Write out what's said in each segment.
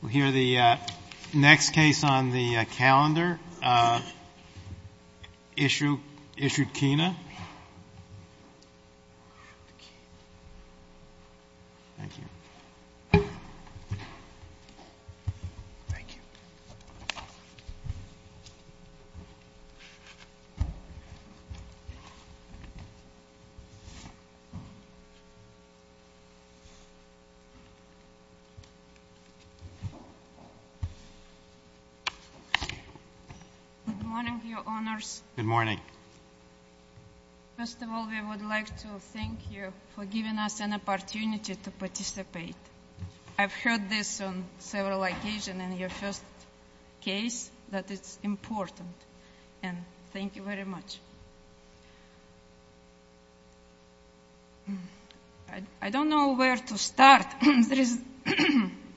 We'll hear the next case on the calendar, Ishutkina. Good morning, Your Honors. Good morning. First of all, we would like to thank you for giving us an opportunity to participate. I've heard this on several occasions in your first case, that it's important. And thank you very much. I don't know where to start.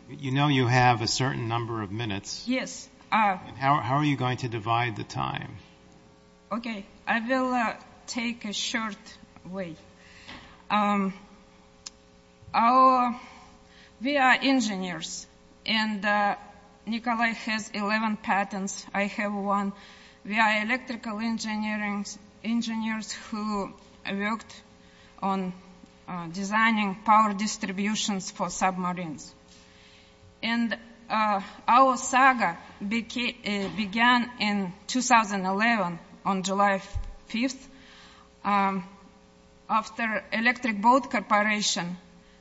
You know you have a certain number of minutes. Yes. How are you going to divide the time? Okay. I will take a short way. We are engineers, and Nikolai has 11 patents. I have one. We are electrical engineers who worked on designing power distributions for submarines. And our saga began in 2011, on July 5th, after Electric Boat Corporation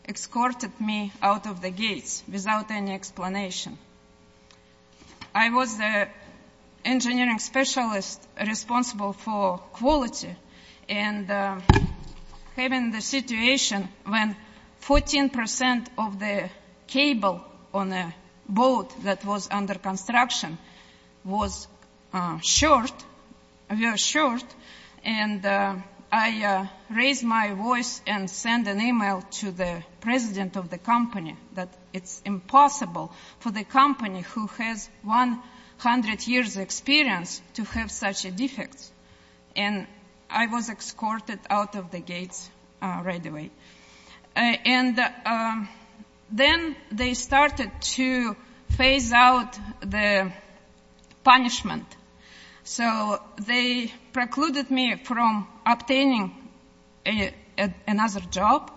escorted me out of the gates without any explanation. I was the engineering specialist responsible for quality, and having the situation when 14 percent of the cable on a boat that was under construction was short, very short, and I raised my voice and sent an email to the president of the company that it's impossible for the company who has 100 years' experience to have such defects. And I was escorted out of the gates right away. And then they started to phase out the punishment. So they precluded me from obtaining another job.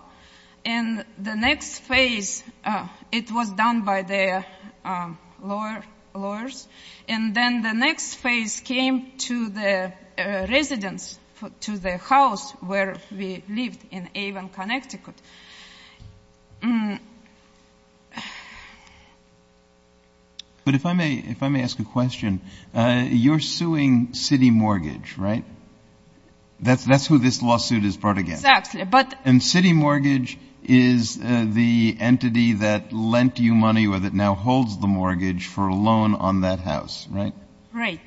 And the next phase, it was done by the lawyers. And then the next phase came to the residence, to the house where we lived in Avon, Connecticut. But if I may ask a question, you're suing City Mortgage, right? That's who this lawsuit is brought against. Exactly. And City Mortgage is the entity that lent you money or that now holds the mortgage for a loan on that house, right? Right.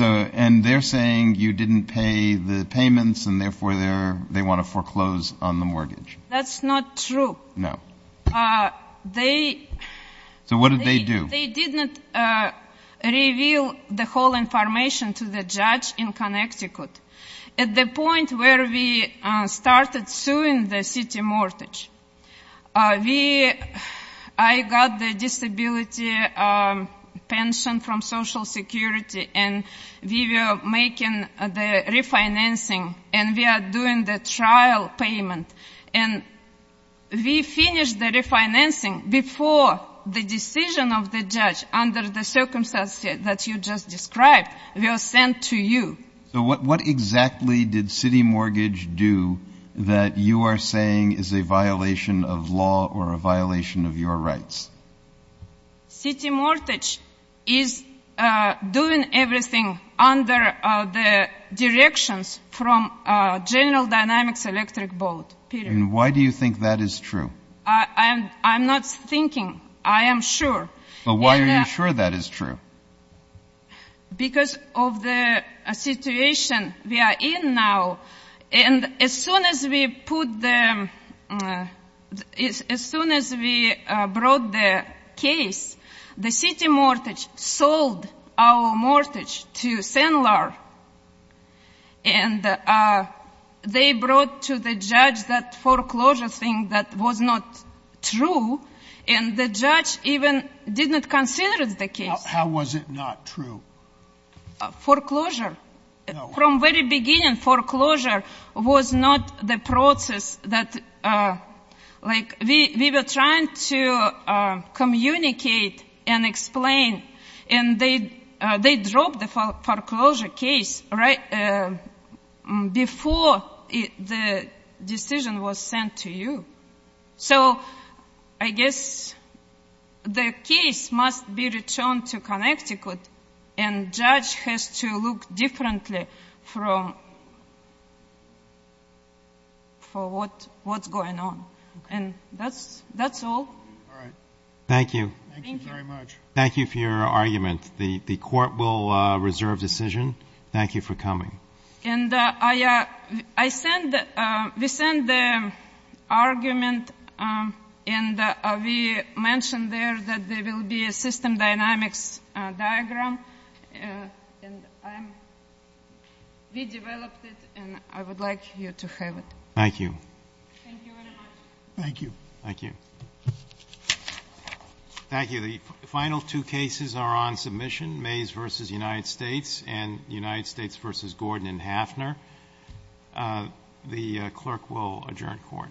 And they're saying you didn't pay the payments, and therefore they want to foreclose on the mortgage. That's not true. No. So what did they do? They did not reveal the whole information to the judge in Connecticut. At the point where we started suing the City Mortgage, I got the disability pension from Social Security, and we were making the refinancing, and we are doing the trial payment. And we finished the refinancing before the decision of the judge under the circumstances that you just described was sent to you. So what exactly did City Mortgage do that you are saying is a violation of law or a violation of your rights? City Mortgage is doing everything under the directions from General Dynamics Electric Boat, period. And why do you think that is true? I'm not thinking. I am sure. But why are you sure that is true? Because of the situation we are in now. And as soon as we put the—as soon as we brought the case, the City Mortgage sold our mortgage to Sandler, and they brought to the judge that foreclosure thing that was not true, and the judge even didn't consider the case. How was it not true? Foreclosure. From the very beginning, foreclosure was not the process that—like, we were trying to communicate and explain, and they dropped the foreclosure case right before the decision was sent to you. So I guess the case must be returned to Connecticut, and judge has to look differently from what's going on. And that's all. All right. Thank you. Thank you very much. Thank you for your argument. The Court will reserve decision. Thank you for coming. And I send—we send the argument, and we mention there that there will be a system dynamics diagram. And I'm—we developed it, and I would like you to have it. Thank you. Thank you very much. Thank you. Thank you. Thank you. The final two cases are on submission, Mays v. United States and United States v. Gordon and Hafner. The clerk will adjourn court.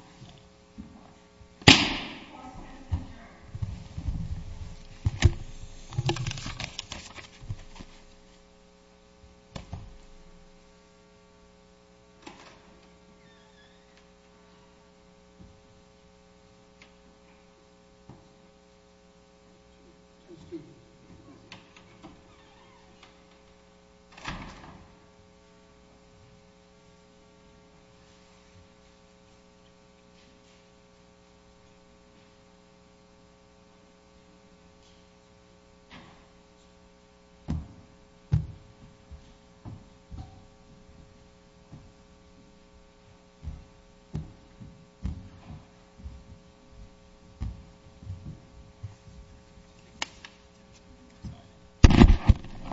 Excuse me. Sorry.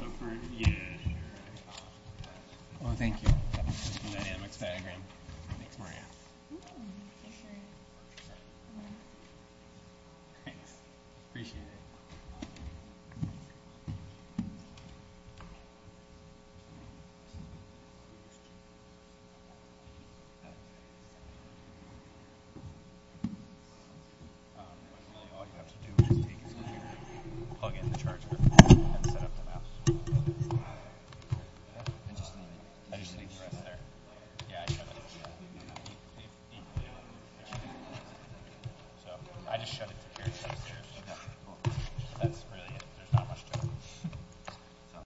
Oh, for—yeah, sure. Oh, thank you. The dynamics diagram. Thanks, Maria. Oh, for sure. Thanks. Appreciate it. That's really it. There's not much to it.